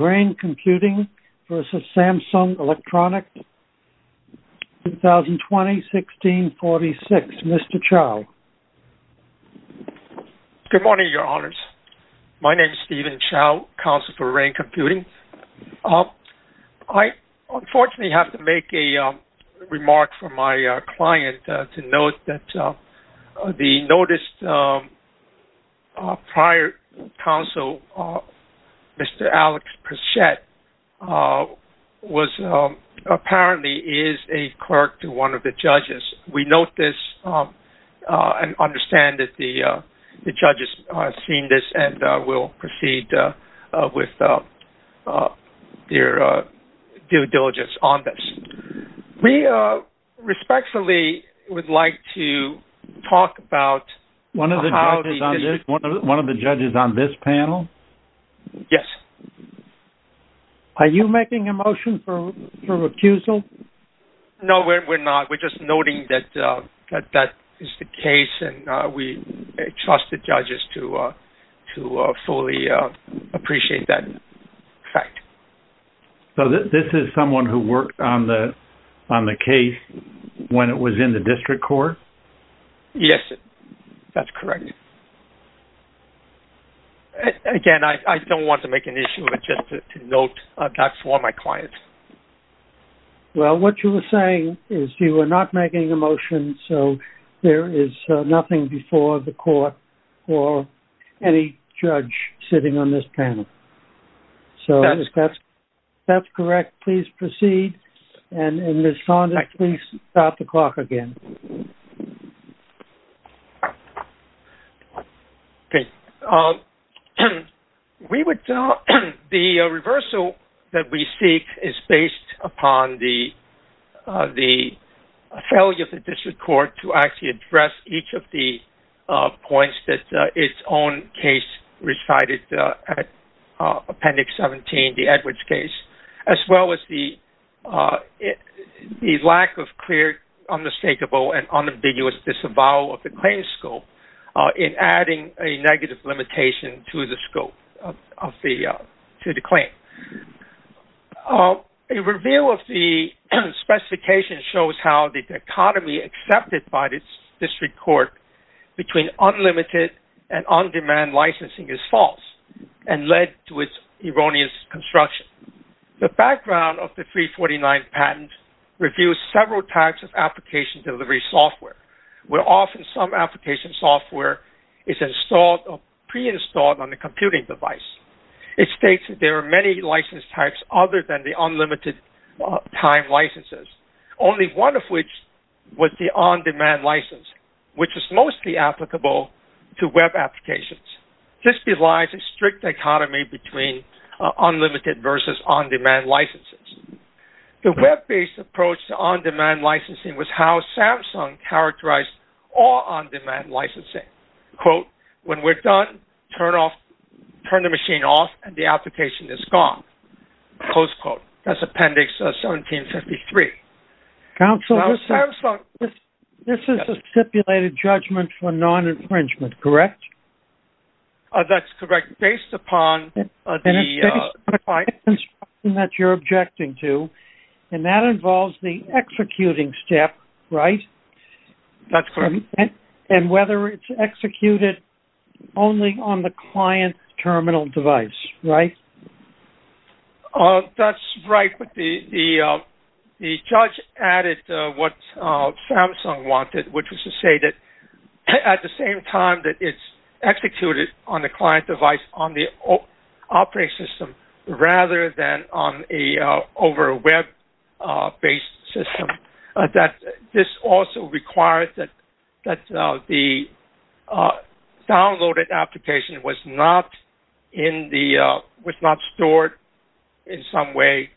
Rain Computing, Inc. v. Samsung Electronics Co., Ltd. Mr. Alex Pritchett apparently is a clerk to one of the judges. We note this and understand that the judges have seen this and will proceed with their due diligence on this. We respectfully would like to talk about... One of the judges on this panel? Yes. Are you making a motion for recusal? No, we're not. We're just noting that that is the case and we trust the judges to fully appreciate that fact. So this is someone who worked on the case when it was in the district court? Yes, that's correct. Again, I don't want to make an issue, but just to note that's for my clients. Well, what you were saying is you are not making a motion, so there is nothing before the court or any judge sitting on this panel. That's correct. Please proceed. Ms. Fonda, please stop the clock again. The reversal that we seek is based upon the failure of the district court to actually address each of the points that its own case recited at Appendix 17, the Edwards case, as well as the lack of clear, unmistakable, and unambiguous disavowal of the claim scope in adding a negative limitation to the scope of the claim. A review of the specification shows how the dichotomy accepted by the district court between unlimited and on-demand licensing is false and led to its erroneous construction. The background of the 349 patent reviews several types of application delivery software, where often some application software is installed or pre-installed on a computing device. It states that there are many license types other than the unlimited time licenses, only one of which was the on-demand license, which is mostly applicable to web applications. This belies a strict dichotomy between unlimited versus on-demand licenses. The web-based approach to on-demand licensing was how Samsung characterized all on-demand licensing. Quote, when we're done, turn the machine off and the application is gone. Close quote. That's Appendix 1753. Counsel, this is a stipulated judgment for non-infringement, correct? That's correct. Based upon the... And it's based upon the construction that you're objecting to, and that involves the executing step, right? That's correct. And whether it's executed only on the client terminal device, right? That's right, but the judge added what Samsung wanted, which was to say that at the same time that it's executed on the client device on the operating system rather than over a web-based system, that this also requires that the downloaded application was not stored in some way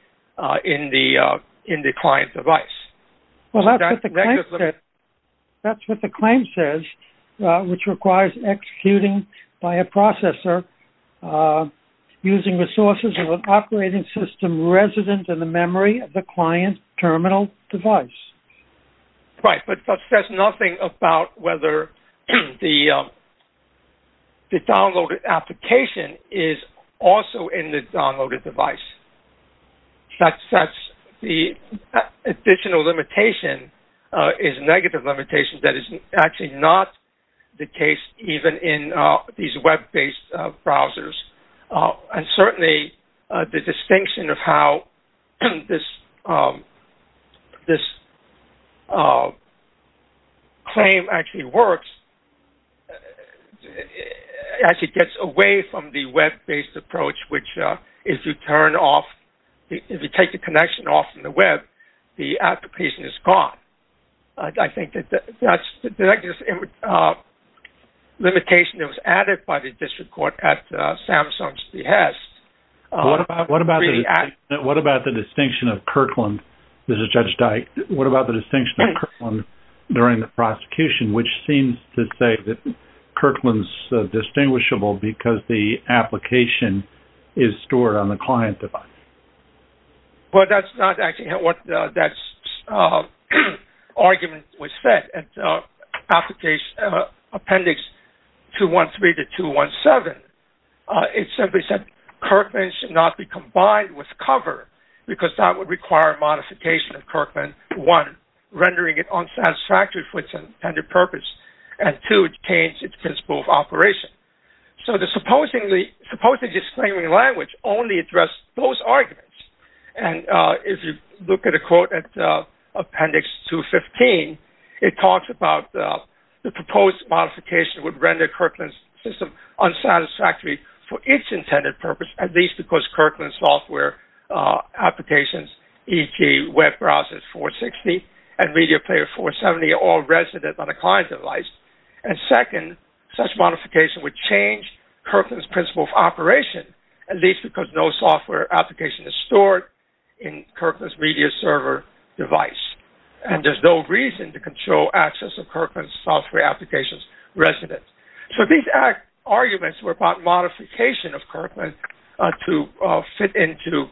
in the client device. Well, that's what the claim says, which requires executing by a processor using the sources of an operating system resident in the memory of the client terminal device. Right, but that says nothing about whether the downloaded application is also in the downloaded device. The additional limitation is a negative limitation that is actually not the case even in these web-based browsers. And certainly, the distinction of how this claim actually works actually gets away from the web-based approach, which if you take the connection off from the web, the application is gone. I think that that's the negative limitation that was added by the district court at Samsung's behest. What about the distinction of Kirkland? This is Judge Dyke. What about the distinction of Kirkland during the prosecution, which seems to say that Kirkland's distinguishable because the application is stored on the client device? Well, that's not actually what that argument was said in Appendix 213 to 217. It simply said Kirkland should not be combined with cover because that would require modification of Kirkland, one, rendering it unsatisfactory for its intended purpose, and two, it would change its principle of operation. So the supposedly disclaiming language only addressed those arguments. And if you look at a quote at Appendix 215, it talks about the proposed modification would render Kirkland's system unsatisfactory for its intended purpose, at least because Kirkland's software applications, e.g., web browsers 460 and Media Player 470, are all resident on a client device. And second, such modification would change Kirkland's principle of operation, at least because no software application is stored in Kirkland's media server device. And there's no reason to control access of Kirkland's software applications resident. So these arguments were about modification of Kirkland to fit into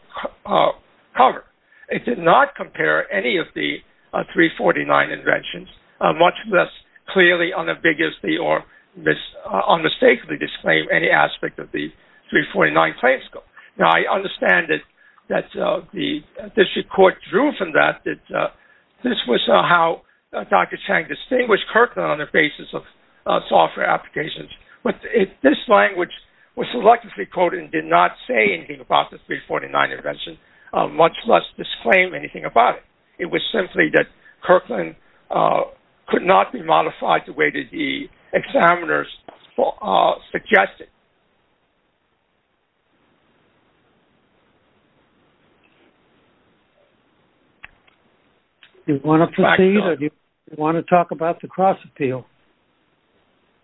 cover. It did not compare any of the 349 inventions, much less clearly, unambiguously, or unmistakably disclaim any aspect of the 349 claims. Now, I understand that this report drew from that, that this was how Dr. Chang distinguished Kirkland on the basis of software applications. But this language was selectively quoted and did not say anything about the 349 invention, much less disclaim anything about it. It was simply that Kirkland could not be modified the way that the examiners suggested. Do you want to proceed or do you want to talk about the cross-appeal?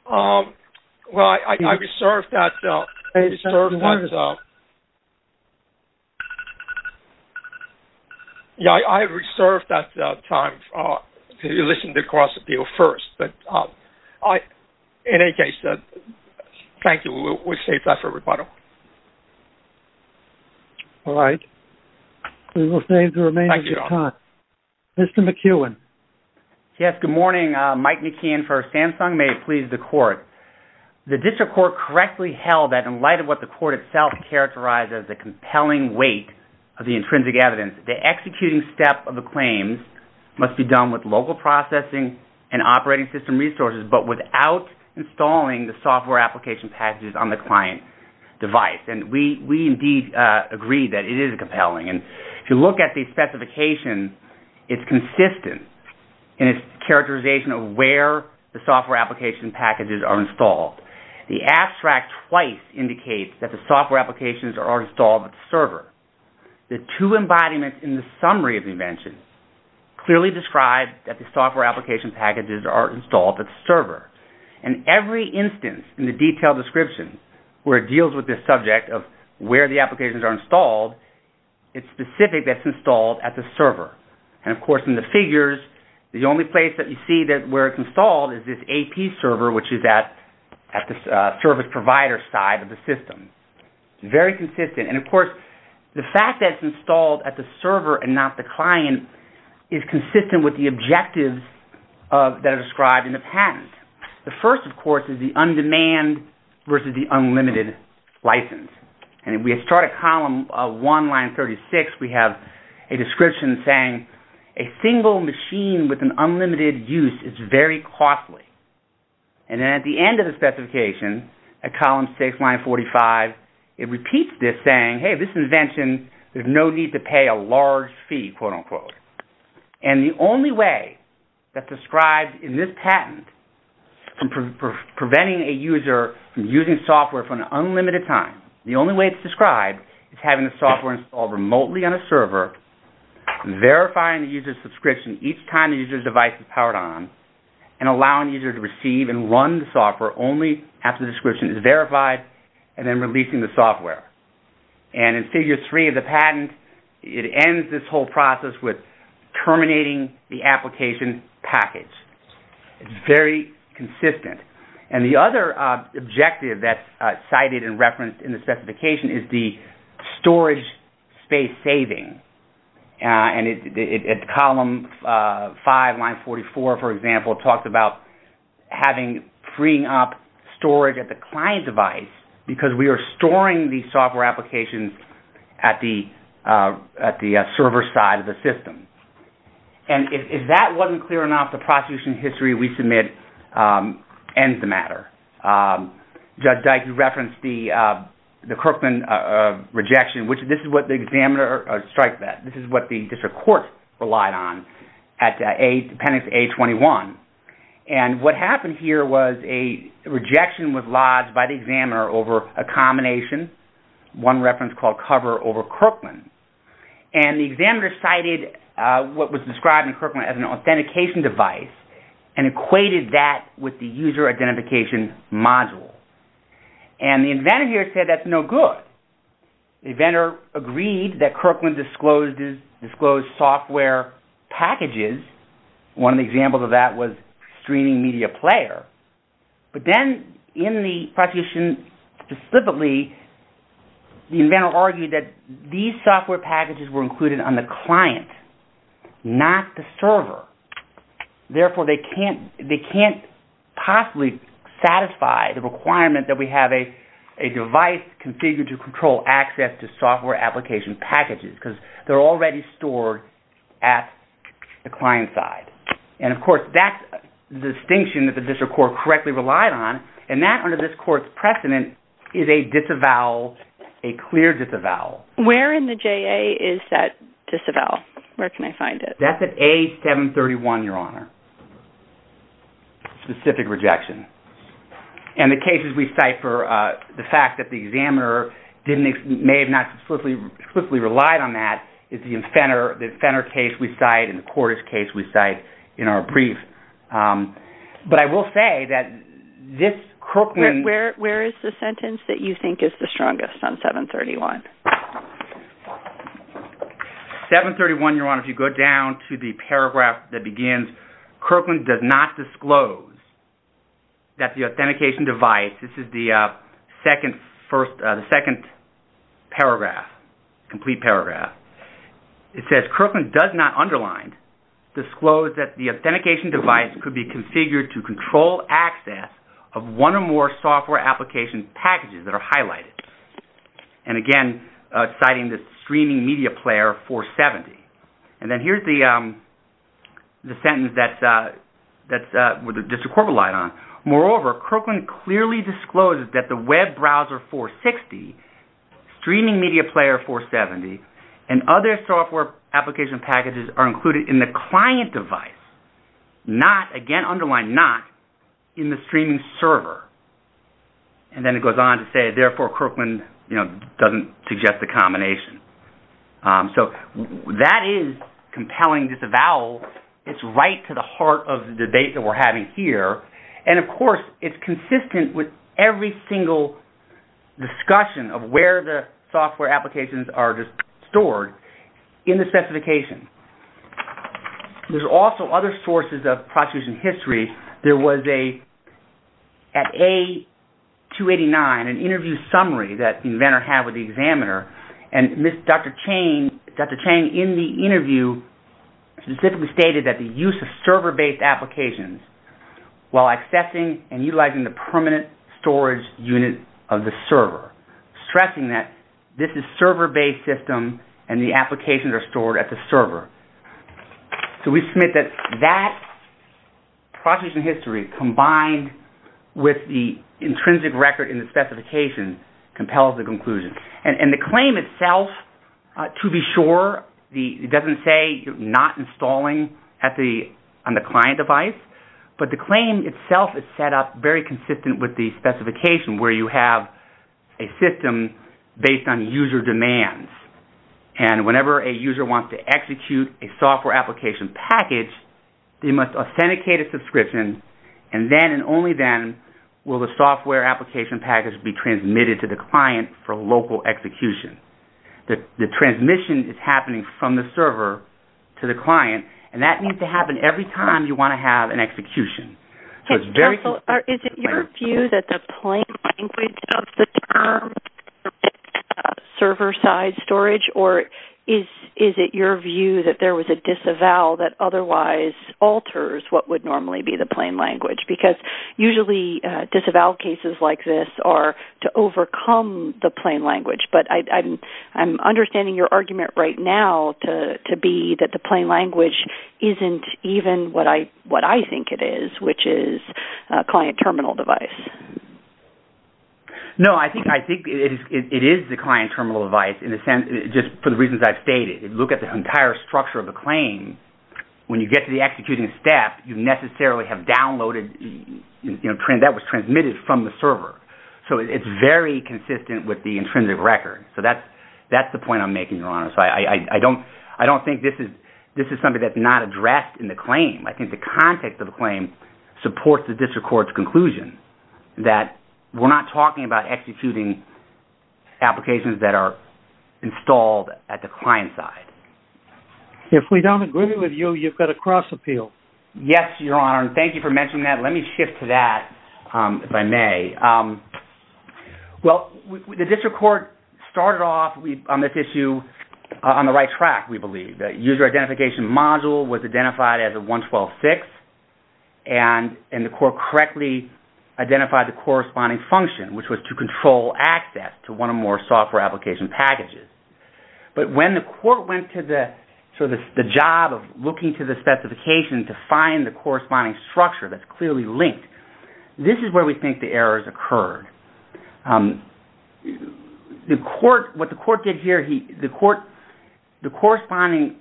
Well, I reserve that time to listen to the cross-appeal first. But in any case, thank you. We'll save that for rebuttal. All right. We will save the remainder of your time. Thank you, Don. Mr. McKeown. Yes, good morning. Mike McKeown for Samsung. May it please the court. The district court correctly held that in light of what the court itself characterized as a compelling weight of the intrinsic evidence, the executing step of the claims must be done with local processing and operating system resources, but without installing the software application packages on the client device. And we indeed agree that it is compelling. And if you look at the specification, it's consistent in its characterization of where the software application packages are installed. The abstract twice indicates that the software applications are installed at the server. The two embodiments in the summary of the invention clearly describe that the software application packages are installed at the server. And every instance in the detailed description where it deals with this subject of where the applications are installed, it's specific that it's installed at the server. And, of course, in the figures, the only place that you see where it's installed is this AP server, which is at the service provider side of the system. Very consistent. And, of course, the fact that it's installed at the server and not the client is consistent with the objectives that are described in the patent. The first, of course, is the on-demand versus the unlimited license. And if we start a column of 1, line 36, we have a description saying, a single machine with an unlimited use is very costly. And then at the end of the specification, at column 6, line 45, it repeats this saying, hey, this invention, there's no need to pay a large fee, quote, unquote. And the only way that's described in this patent for preventing a user from using software for an unlimited time, the only way it's described is having the software installed remotely on a server, verifying the user's subscription each time the user's device is powered on, and allowing the user to receive and run the software only after the description is verified, and then releasing the software. And in figure 3 of the patent, it ends this whole process with terminating the application package. It's very consistent. And the other objective that's cited and referenced in the specification is the storage space saving. And at column 5, line 44, for example, it talks about having freeing up storage at the client device because we are storing the software applications at the server side of the system. And if that wasn't clear enough, the prosecution history we submit ends the matter. Judge Dike referenced the Kirkman rejection, which this is what the examiner striked at. This is what the district court relied on at appendix A21. And what happened here was a rejection was lodged by the examiner over a combination, one reference called cover over Kirkman. And the examiner cited what was described in Kirkman as an authentication device and equated that with the user identification module. And the inventor here said that's no good. The inventor agreed that Kirkman disclosed software packages. One of the examples of that was streaming media player. But then in the prosecution specifically, the inventor argued that these software packages were included on the client, not the server. Therefore, they can't possibly satisfy the requirement that we have a device configured to control access to software application packages because they're already stored at the client side. And, of course, that's the distinction that the district court correctly relied on. And that, under this court's precedent, is a disavowal, a clear disavowal. Where in the JA is that disavowal? Where can I find it? That's at A731, Your Honor. Specific rejection. And the cases we cite for the fact that the examiner may have not specifically relied on that is the Fenner case we cite and the Cordish case we cite in our brief. But I will say that this Kirkman... Where is the sentence that you think is the strongest on 731? 731, Your Honor, if you go down to the paragraph that begins, Kirkman does not disclose that the authentication device... This is the second paragraph, complete paragraph. It says, Kirkman does not underline, disclose that the authentication device could be configured to control access of one or more software application packages that are highlighted. And again, citing the streaming media player 470. And then here's the sentence that the district court relied on. Moreover, Kirkman clearly discloses that the web browser 460, streaming media player 470, and other software application packages are included in the client device, not, again, underline not, in the streaming server. And then it goes on to say, therefore Kirkman doesn't suggest the combination. So that is compelling disavowal. It's right to the heart of the debate that we're having here. And, of course, it's consistent with every single discussion of where the software applications are stored in the specification. There's also other sources of prosecution history. There was a, at A289, an interview summary that the inventor had with the examiner. And Dr. Chang, in the interview, specifically stated that the use of server-based applications while accessing and utilizing the permanent storage unit of the server, stressing that this is server-based system and the applications are stored at the server. So we submit that that prosecution history, combined with the intrinsic record in the specification, compels the conclusion. And the claim itself, to be sure, it doesn't say you're not installing on the client device, but the claim itself is set up very consistent with the specification where you have a system based on user demands. And whenever a user wants to execute a software application package, they must authenticate a subscription, and then and only then will the software application package be transmitted to the client for local execution. The transmission is happening from the server to the client, and that needs to happen every time you want to have an execution. Is it your view that the plain language of the term server-side storage, or is it your view that there was a disavowal that otherwise alters what would normally be the plain language? Because usually disavowal cases like this are to overcome the plain language, but I'm understanding your argument right now to be that the plain language isn't even what I think it is, which is a client terminal device. No, I think it is the client terminal device, just for the reasons I've stated. Look at the entire structure of the claim. When you get to the executing step, you necessarily have downloaded, that was transmitted from the server. So it's very consistent with the intrinsic record. So that's the point I'm making, Your Honor. I don't think this is something that's not addressed in the claim. I think the context of the claim supports the district court's conclusion that we're not talking about executing applications that are installed at the client side. If we don't agree with you, you've got to cross-appeal. Yes, Your Honor, and thank you for mentioning that. Let me shift to that, if I may. Well, the district court started off on this issue on the right track, we believe. The user identification module was identified as a 112.6, and the court correctly identified the corresponding function, which was to control access to one or more software application packages. But when the court went to the job of looking to the specification to find the corresponding structure that's clearly linked, this is where we think the errors occurred. What the court did here, the corresponding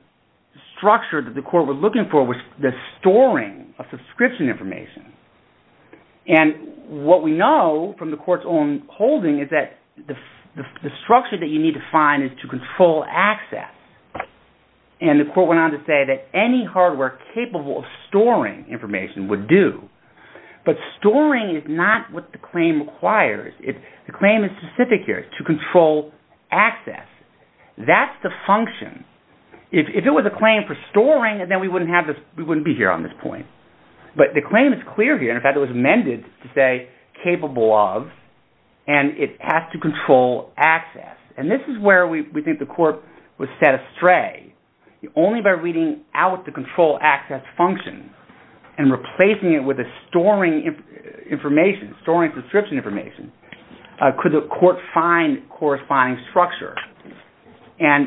structure that the court was looking for was the storing of subscription information. And what we know from the court's own holding is that the structure that you need to find is to control access. And the court went on to say that any hardware capable of storing information would do. But storing is not what the claim requires. The claim is specific here. It's to control access. That's the function. If it was a claim for storing, then we wouldn't be here on this point. But the claim is clear here. In fact, it was amended to say capable of, and it has to control access. And this is where we think the court was set astray. Only by reading out the control access function and replacing it with a storing information, storing subscription information, could the court find corresponding structure. And,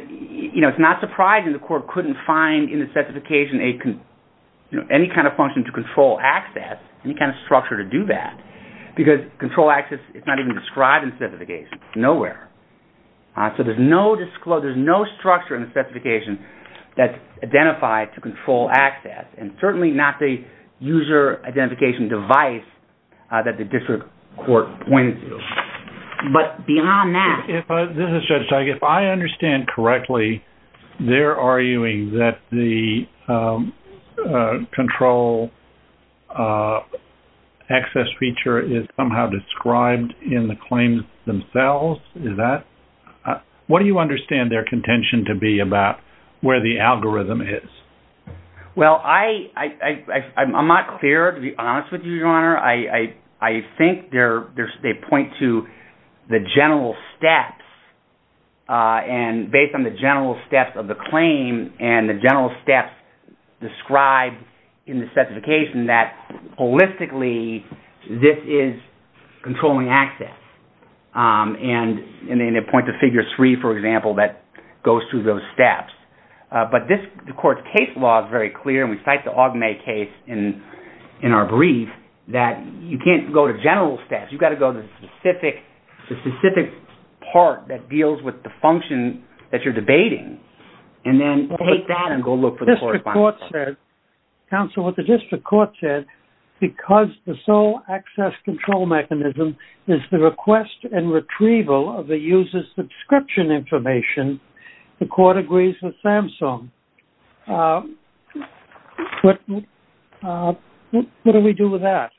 you know, it's not surprising the court couldn't find in the specification any kind of function to control access, any kind of structure to do that, because control access is not even described in the specification. It's nowhere. So there's no structure in the specification that's identified to control access. And certainly not the user identification device that the district court pointed to. But beyond that... This is Judge Teige. If I understand correctly, they're arguing that the control access feature is somehow described in the claims themselves. Is that...? What do you understand their contention to be about where the algorithm is? Well, I'm not clear, to be honest with you, Your Honour. I think they point to the general steps, and based on the general steps of the claim and the general steps described in the specification, that holistically this is controlling access. And they point to figure 3, for example, that goes through those steps. But the court's case law is very clear, and we cite the Augmet case in our brief, that you can't go to general steps. You've got to go to the specific part that deals with the function that you're debating, and then take that and go look for the corresponding... The district court said... Counsel, what the district court said, because the sole access control mechanism is the request and retrieval of the user's subscription information, the court agrees with Samsung. What do we do with that?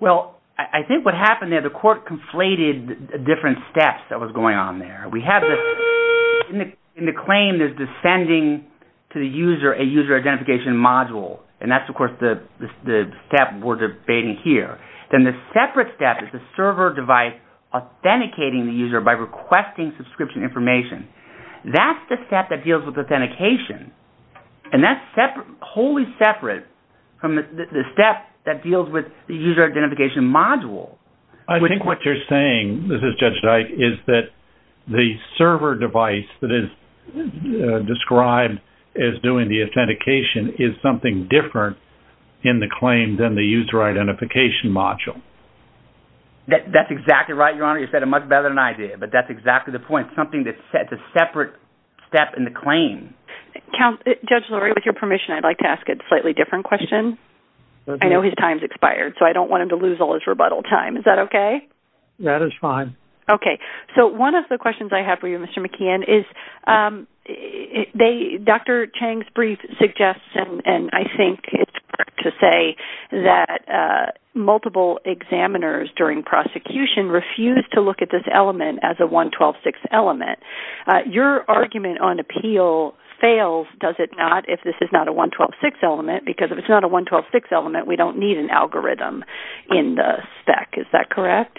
Well, I think what happened there, the court conflated different steps that was going on there. We have the... In the claim, there's the sending to the user a user identification module, and that's, of course, the step we're debating here. Then the separate step is the server device authenticating the user by requesting subscription information. That's the step that deals with authentication, and that's wholly separate from the step that deals with the user identification module. I think what you're saying, this is Judge Dyke, is that the server device that is described as doing the authentication is something different in the claim than the user identification module. That's exactly right, Your Honor. Judge Lurie said it much better than I did, but that's exactly the point. Something that's a separate step in the claim. Judge Lurie, with your permission, I'd like to ask a slightly different question. I know his time's expired, so I don't want him to lose all his rebuttal time. Is that okay? That is fine. Okay. So one of the questions I have for you, Mr. McKeon, is Dr. Chang's brief suggests, and I think it's fair to say, that multiple examiners during prosecution refused to look at this element as a 112.6 element. Your argument on appeal fails, does it not, if this is not a 112.6 element, because if it's not a 112.6 element, we don't need an algorithm in the spec. Is that correct?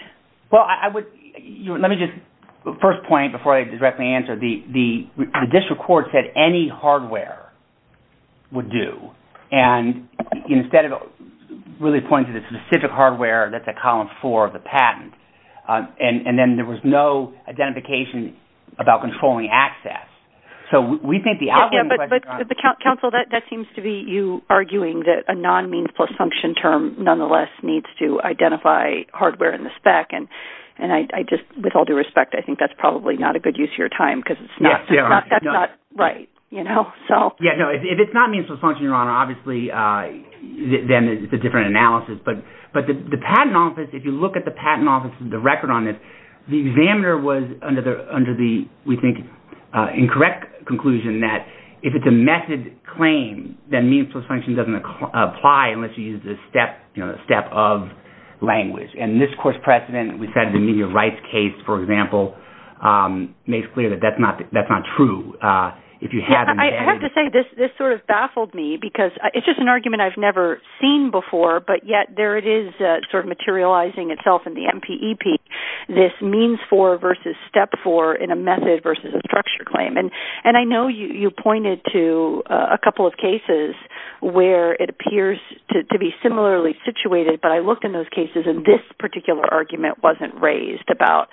Well, let me just, first point, before I directly answer, the district court said any hardware would do, and instead of really pointing to the specific hardware that's at Column 4 of the patent, and then there was no identification about controlling access. So we think the algorithm... Counsel, that seems to be you arguing that a non-means-plus-function term nonetheless needs to identify hardware in the spec, and I just, with all due respect, I think that's probably not a good use of your time, because that's not right, you know? Yeah, no, if it's not means-plus-function, Your Honor, obviously then it's a different analysis, but the patent office, if you look at the patent office, the record on this, the examiner was under the, we think, incorrect conclusion that if it's a method claim, then means-plus-function doesn't apply unless you use the step of language, and this court's precedent, we said the media rights case, for example, makes clear that that's not true. I have to say, this sort of baffled me, because it's just an argument I've never seen before, but yet there it is sort of materializing itself in the MPEP, this means-for versus step-for in a method versus a structure claim, and I know you pointed to a couple of cases where it appears to be similarly situated, but I looked in those cases, and this particular argument wasn't raised about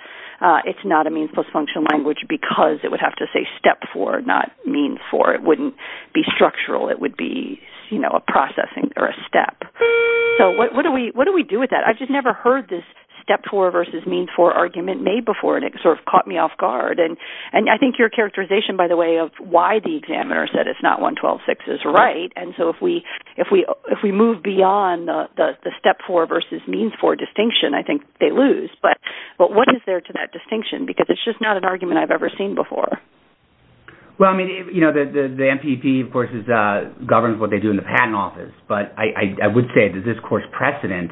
it's not a means-plus-function language because it would have to say step-for, not means-for. It wouldn't be structural. It would be a processing or a step. So what do we do with that? I've just never heard this step-for versus means-for argument made before, and it sort of caught me off guard, and I think your characterization, by the way, of why the examiner said it's not 112.6 is right, and so if we move beyond the step-for versus means-for distinction, I think they lose, but what is there to that distinction? Because it's just not an argument I've ever seen before. Well, I mean, you know, the MPP, of course, governs what they do in the patent office, but I would say that this court's precedent,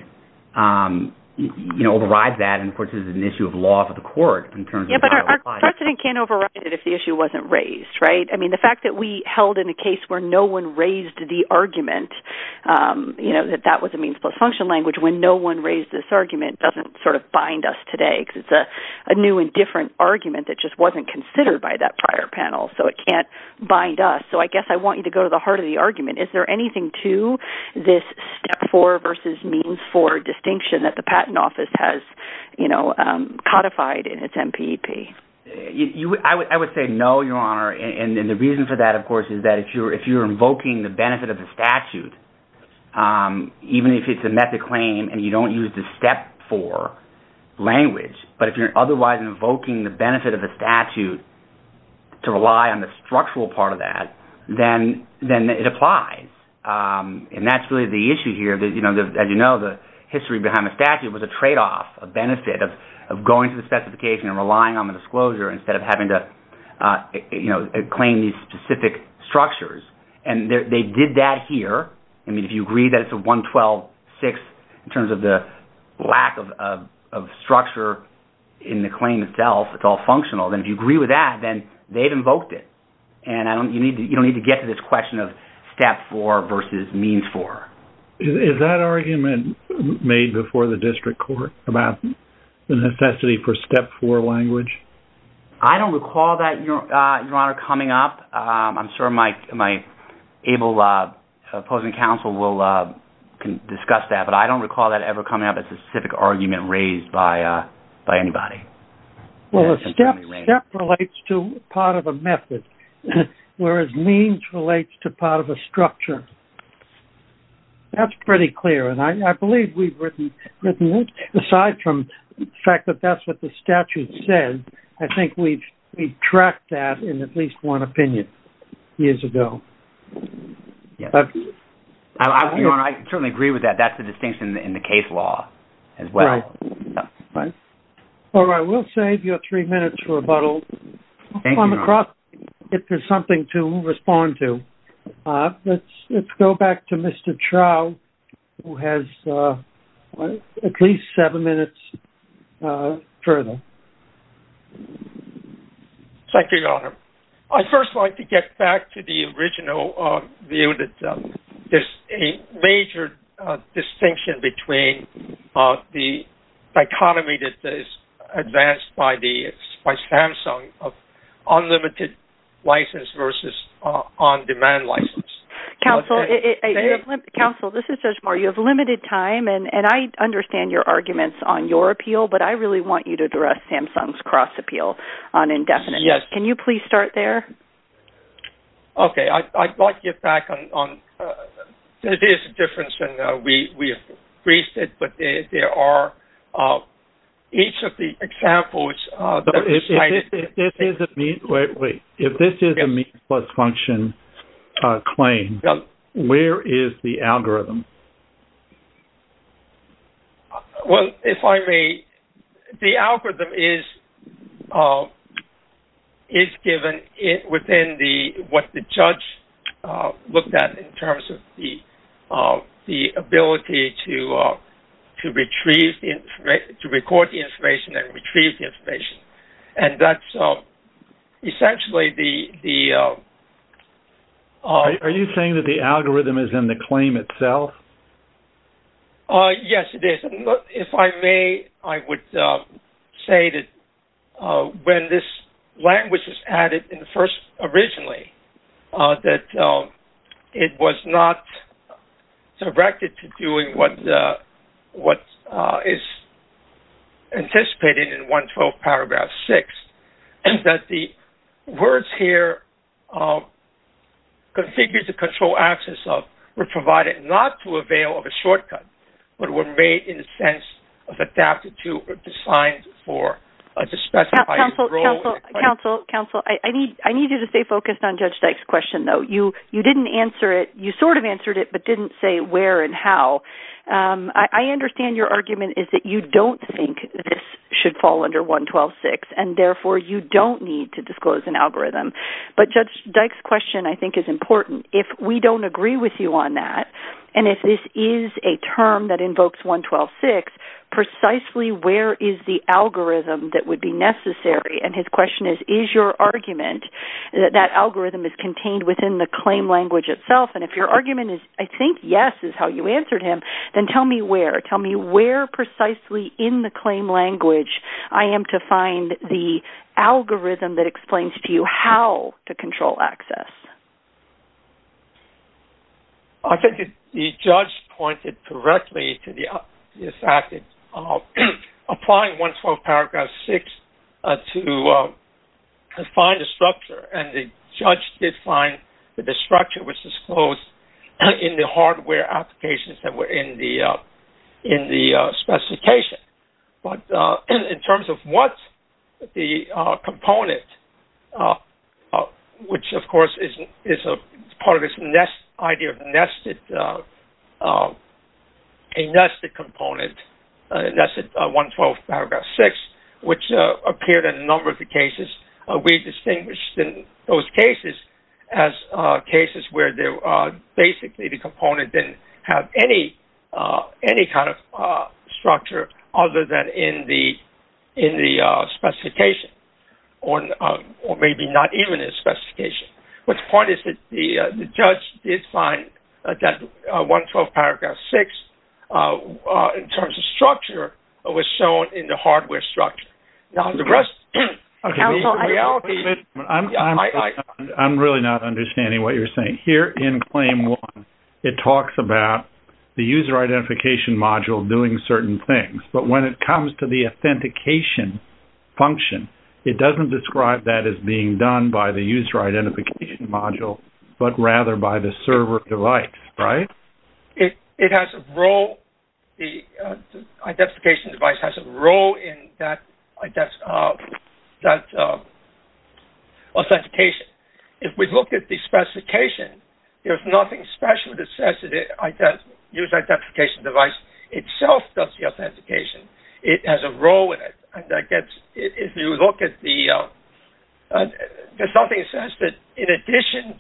you know, overrides that, and, of course, this is an issue of law for the court in terms of how it applies. Yeah, but our precedent can't override it if the issue wasn't raised, right? I mean, the fact that we held in a case where no one raised the argument, you know, that that was a means-plus-function language when no one raised this argument doesn't sort of bind us today because it's a new and different argument that just wasn't considered by that prior panel, so it can't bind us. So I guess I want you to go to the heart of the argument. Is there anything to this step-for versus means-for distinction that the patent office has, you know, codified in its MPP? I would say no, Your Honor, and the reason for that, of course, is that if you're invoking the benefit of the statute, even if it's a method claim and you don't use the step-for language, but if you're otherwise invoking the benefit of the statute to rely on the structural part of that, then it applies, and that's really the issue here. You know, as you know, the history behind the statute was a trade-off, a benefit of going to the specification and relying on the disclosure instead of having to, you know, claim these specific structures, and they did that here. I mean, if you agree that it's a 112-6 in terms of the lack of structure in the claim itself, it's all functional, then if you agree with that, then they've invoked it, and you don't need to get to this question of step-for versus means-for. Is that argument made before the district court about the necessity for step-for language? I don't recall that, Your Honor, coming up. I'm sure my able opposing counsel will discuss that, but I don't recall that ever coming up as a specific argument raised by anybody. Well, a step relates to part of a method, whereas means relates to part of a structure. That's pretty clear, and I believe we've written it. Aside from the fact that that's what the statute said, I think we've tracked that in at least one opinion years ago. Yes. Your Honor, I certainly agree with that. That's the distinction in the case law as well. Right. All right. We'll save your three minutes for rebuttal. Thank you, Your Honor. I'm across if there's something to respond to. Let's go back to Mr. Trout, who has at least seven minutes further. Thank you, Your Honor. I'd first like to get back to the original view that there's a major distinction between the dichotomy that is advanced by Samsung of unlimited license versus on-demand license. Counsel, this is Judge Moore. You have limited time, and I understand your arguments on your appeal, but I really want you to address Samsung's cross-appeal on indefinite. Yes. Can you please start there? Okay. I'd like to get back on this difference, and we have raised it, but there are each of the examples. If this is a mean-plus function claim, where is the algorithm? Well, if I may, the algorithm is given within what the judge looked at in terms of the ability to record the information and retrieve the information, and that's essentially the... Are you saying that the algorithm is in the claim itself Yes, it is. If I may, I would say that when this language is added in the first originally, that it was not directed to doing what is anticipated in 112 paragraph 6, and that the words here, configured to control access of, were provided not to avail of a shortcut, but were made in the sense of adapted to or designed to specify the role... Counsel, counsel, I need you to stay focused on Judge Dyke's question, though. You didn't answer it. You sort of answered it, but didn't say where and how. I understand your argument is that you don't think this should fall under 112.6, and therefore you don't need to disclose an algorithm, but Judge Dyke's question, I think, is important. If we don't agree with you on that, and if this is a term that invokes 112.6, precisely where is the algorithm that would be necessary? And his question is, is your argument that that algorithm is contained within the claim language itself? And if your argument is, I think yes is how you answered him, then tell me where. Tell me where precisely in the claim language I am to find the algorithm that explains to you how to control access. I think the judge pointed correctly to the fact that applying 112.6 to define the structure, and the judge did find that the structure was disclosed in the hardware applications that were in the specification. But in terms of what the component, which of course is part of this idea of a nested component, that's 112.6, which appeared in a number of the cases. as cases where basically the component didn't have any kind of structure other than in the specification, or maybe not even in the specification. But the point is that the judge did find that 112.6 in terms of structure was shown in the hardware structure. I'm really not understanding what you're saying. Here in claim one, it talks about the user identification module doing certain things, but when it comes to the authentication function, it doesn't describe that as being done by the user identification module, but rather by the server device, right? It has a role, the identification device has a role in that authentication. If we look at the specification, there's nothing special that says that the user identification device itself does the authentication. It has a role in it. If you look at the, there's nothing that says that in addition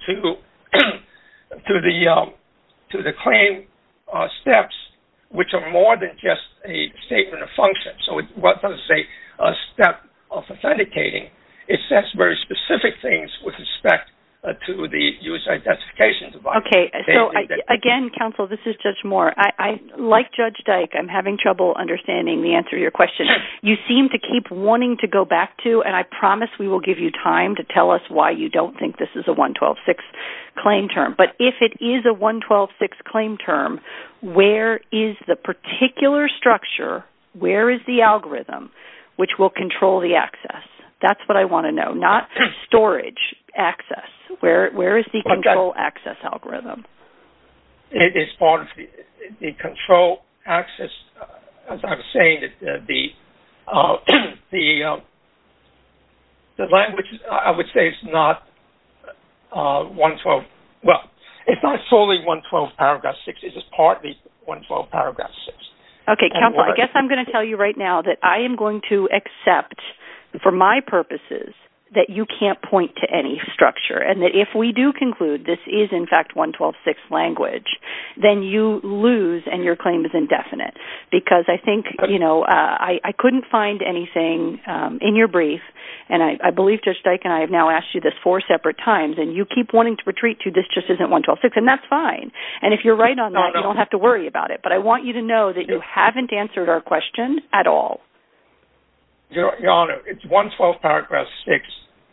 to the claim steps, which are more than just a statement of function, so what does a step of authenticating, it sets very specific things with respect to the user identification device. Okay, so again, counsel, this is Judge Moore. Like Judge Dyke, I'm having trouble understanding the answer to your question. You seem to keep wanting to go back to, and I promise we will give you time to tell us why you don't think this is a 112.6 claim term. But if it is a 112.6 claim term, where is the particular structure, where is the algorithm, which will control the access? That's what I want to know, not storage access. Where is the control access algorithm? It is part of the control access, as I was saying, the language, I would say, is not 112. Well, it's not solely 112.6. It is partly 112.6. Okay, counsel, I guess I'm going to tell you right now that I am going to accept, for my purposes, that you can't point to any structure and that if we do conclude this is in fact 112.6 language, then you lose and your claim is indefinite. Because I think, you know, I couldn't find anything in your brief, and I believe Judge Dyke and I have now asked you this four separate times, and you keep wanting to retreat to this just isn't 112.6, and that's fine. And if you're right on that, you don't have to worry about it. But I want you to know that you haven't answered our question at all. Your Honor, it's 112.6.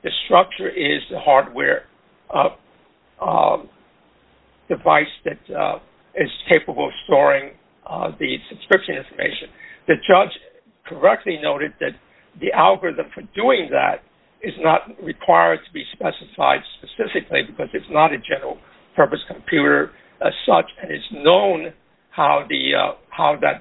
The structure is the hardware device that is capable of storing the subscription information. The judge correctly noted that the algorithm for doing that is not required to be specified specifically because it's not a general purpose computer as such, and it's known how that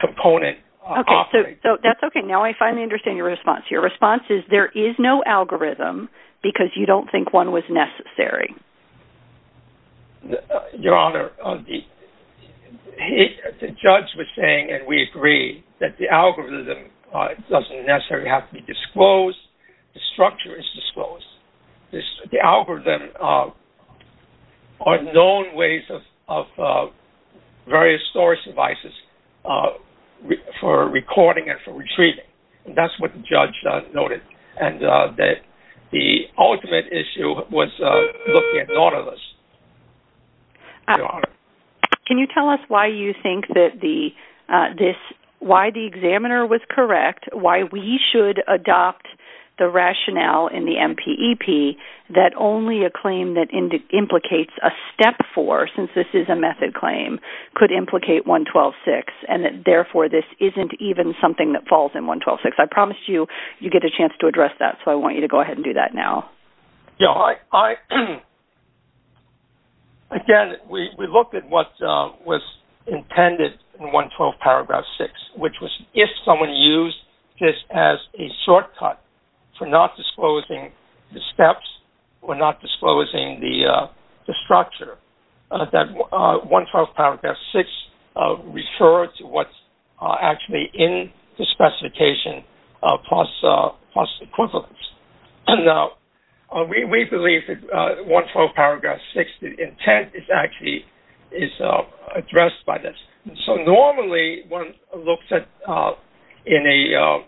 component operates. Okay, so that's okay. Now I finally understand your response here. Your response is there is no algorithm because you don't think one was necessary. Your Honor, the judge was saying, and we agree, that the algorithm doesn't necessarily have to be disclosed. The structure is disclosed. The algorithm are known ways of various storage devices for recording and for retrieving, and that's what the judge noted, and that the ultimate issue was looking at nautilus. Your Honor. Can you tell us why you think that this, why the examiner was correct, why we should adopt the rationale in the MPEP that only a claim that implicates a step four, since this is a method claim, could implicate 112.6, and that therefore this isn't even something that falls in 112.6? I promised you you'd get a chance to address that, so I want you to go ahead and do that now. Your Honor, again, we looked at what was intended in 112.6, which was if someone used this as a shortcut for not disclosing the steps or not disclosing the structure, that 112.6 referred to what's actually in the specification plus equivalence. And we believe that 112.6, the intent is actually addressed by this. So normally one looks at, in a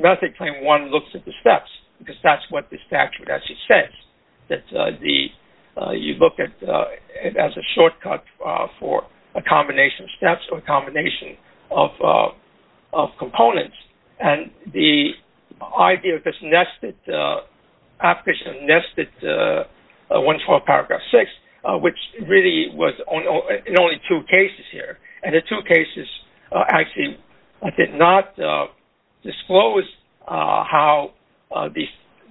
method claim, one looks at the steps, because that's what the statute actually says, that you look at it as a shortcut for a combination of steps or a combination of components. And the idea of this nested application, nested 112.6, which really was in only two cases here, and the two cases actually did not disclose how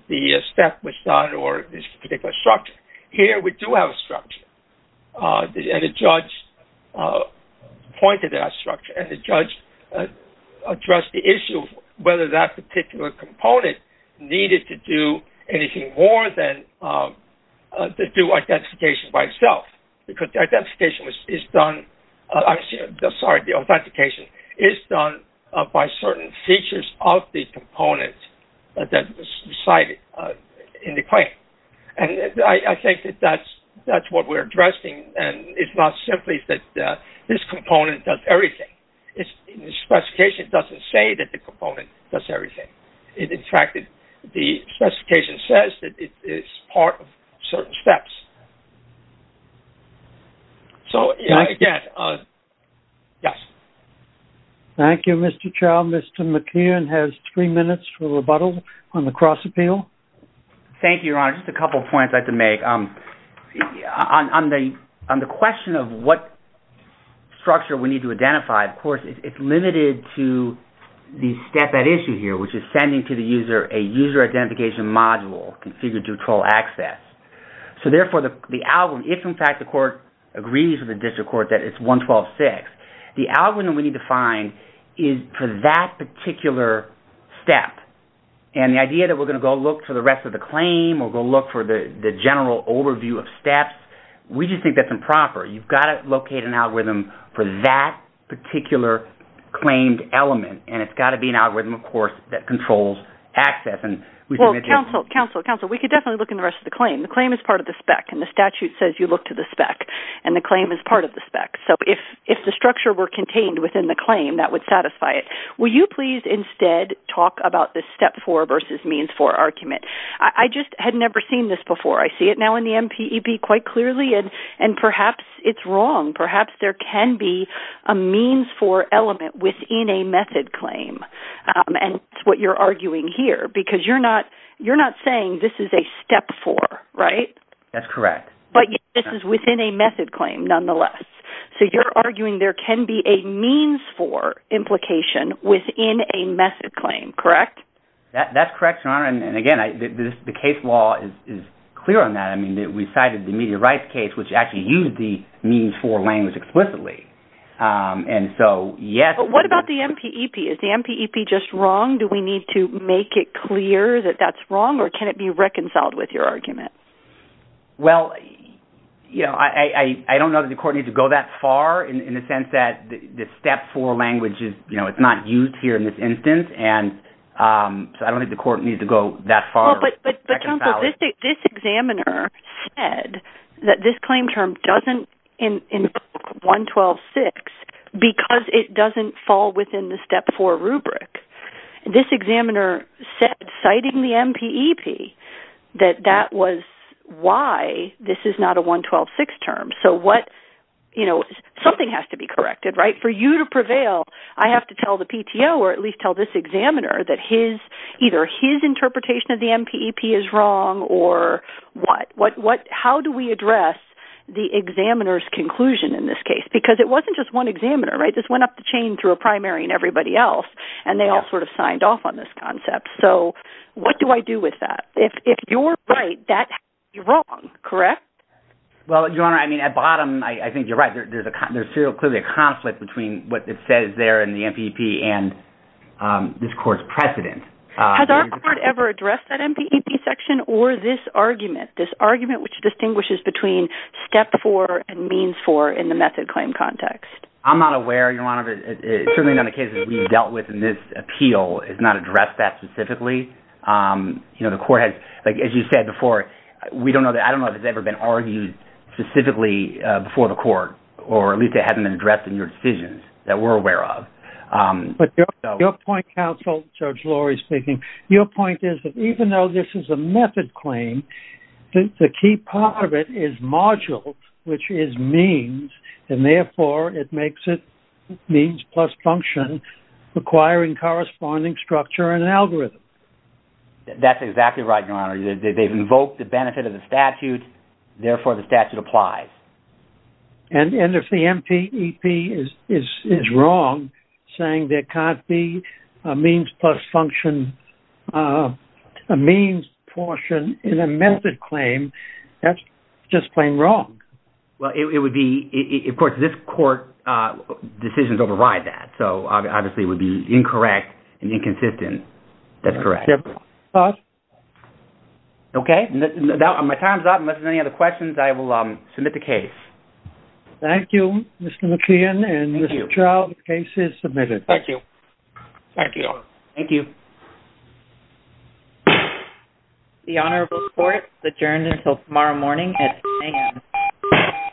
the step was done or this particular structure. Here we do have a structure, and a judge pointed to that structure, and the judge addressed the issue of whether that particular component needed to do anything more than to do identification by itself, because the identification is done, I'm sorry, the authentication is done by certain features of the component that was decided in the claim. And I think that that's what we're addressing, and it's not simply that this component does everything. The specification doesn't say that the component does everything. In fact, the specification says that it's part of certain steps. So, again, yes. Thank you, Mr. Chau. Mr. McKeon has three minutes for rebuttal on the cross-appeal. Thank you, Your Honor. Just a couple of points I'd like to make. On the question of what structure we need to identify, of course, it's limited to the step at issue here, which is sending to the user a user identification module configured to control access. So, therefore, if, in fact, the court agrees with the district court that it's 112.6, the algorithm we need to find is for that particular step. And the idea that we're going to go look for the rest of the claim or go look for the general overview of steps, we just think that's improper. You've got to locate an algorithm for that particular claimed element, and it's got to be an algorithm, of course, that controls access. Well, counsel, counsel, counsel, we could definitely look in the rest of the claim. The claim is part of the spec, and the statute says you look to the spec, and the claim is part of the spec. So if the structure were contained within the claim, that would satisfy it. Will you please, instead, talk about this step 4 versus means 4 argument? I just had never seen this before. I see it now in the MPEB quite clearly, and perhaps it's wrong. Perhaps there can be a means 4 element within a method claim, and that's what you're arguing here, because you're not saying this is a step 4, right? That's correct. But this is within a method claim, nonetheless. So you're arguing there can be a means 4 implication within a method claim, correct? That's correct, Your Honor, and again, the case law is clear on that. I mean, we cited the Media Rights case, which actually used the means 4 language explicitly. But what about the MPEB? Is the MPEB just wrong? Do we need to make it clear that that's wrong, or can it be reconciled with your argument? Well, I don't know that the court needs to go that far in the sense that the step 4 language is not used here in this instance, so I don't think the court needs to go that far. But counsel, this examiner said that this claim term doesn't include 112.6 because it doesn't fall within the step 4 rubric. This examiner said, citing the MPEB, that that was why this is not a 112.6 term. So what, you know, something has to be corrected, right? For you to prevail, I have to tell the PTO, or at least tell this examiner, that either his interpretation of the MPEB is wrong, or what? How do we address the examiner's conclusion in this case? Because it wasn't just one examiner, right? This went up the chain through a primary and everybody else, and they all sort of signed off on this concept. So what do I do with that? If you're right, that has to be wrong, correct? Well, Your Honor, I mean, at bottom, I think you're right. There's clearly a conflict between what it says there in the MPEB and this court's precedent. Has our court ever addressed that MPEB section, or this argument, this argument which distinguishes between step four and means four in the method claim context? I'm not aware, Your Honor, certainly not in the cases we've dealt with in this appeal, it's not addressed that specifically. You know, the court has, like as you said before, we don't know, I don't know if it's ever been argued specifically before the court, or at least it hasn't been addressed in your decisions that we're aware of. But your point, counsel, Judge Lori speaking, your point is that even though this is a method claim, the key part of it is module, which is means, and therefore it makes it means plus function requiring corresponding structure and algorithm. That's exactly right, Your Honor. They've invoked the benefit of the statute, therefore the statute applies. And if the MPEB is wrong, saying there can't be a means plus function, a means portion in a method claim, that's just plain wrong. Well, it would be, of course, this court decisions override that, so obviously it would be incorrect and inconsistent. That's correct. Okay, my time's up. Unless there's any other questions, I will submit the case. Thank you, Mr. McKeon, and Mr. Chau, the case is submitted. Thank you. Thank you. Thank you. The honorable court is adjourned until tomorrow morning at 10 a.m.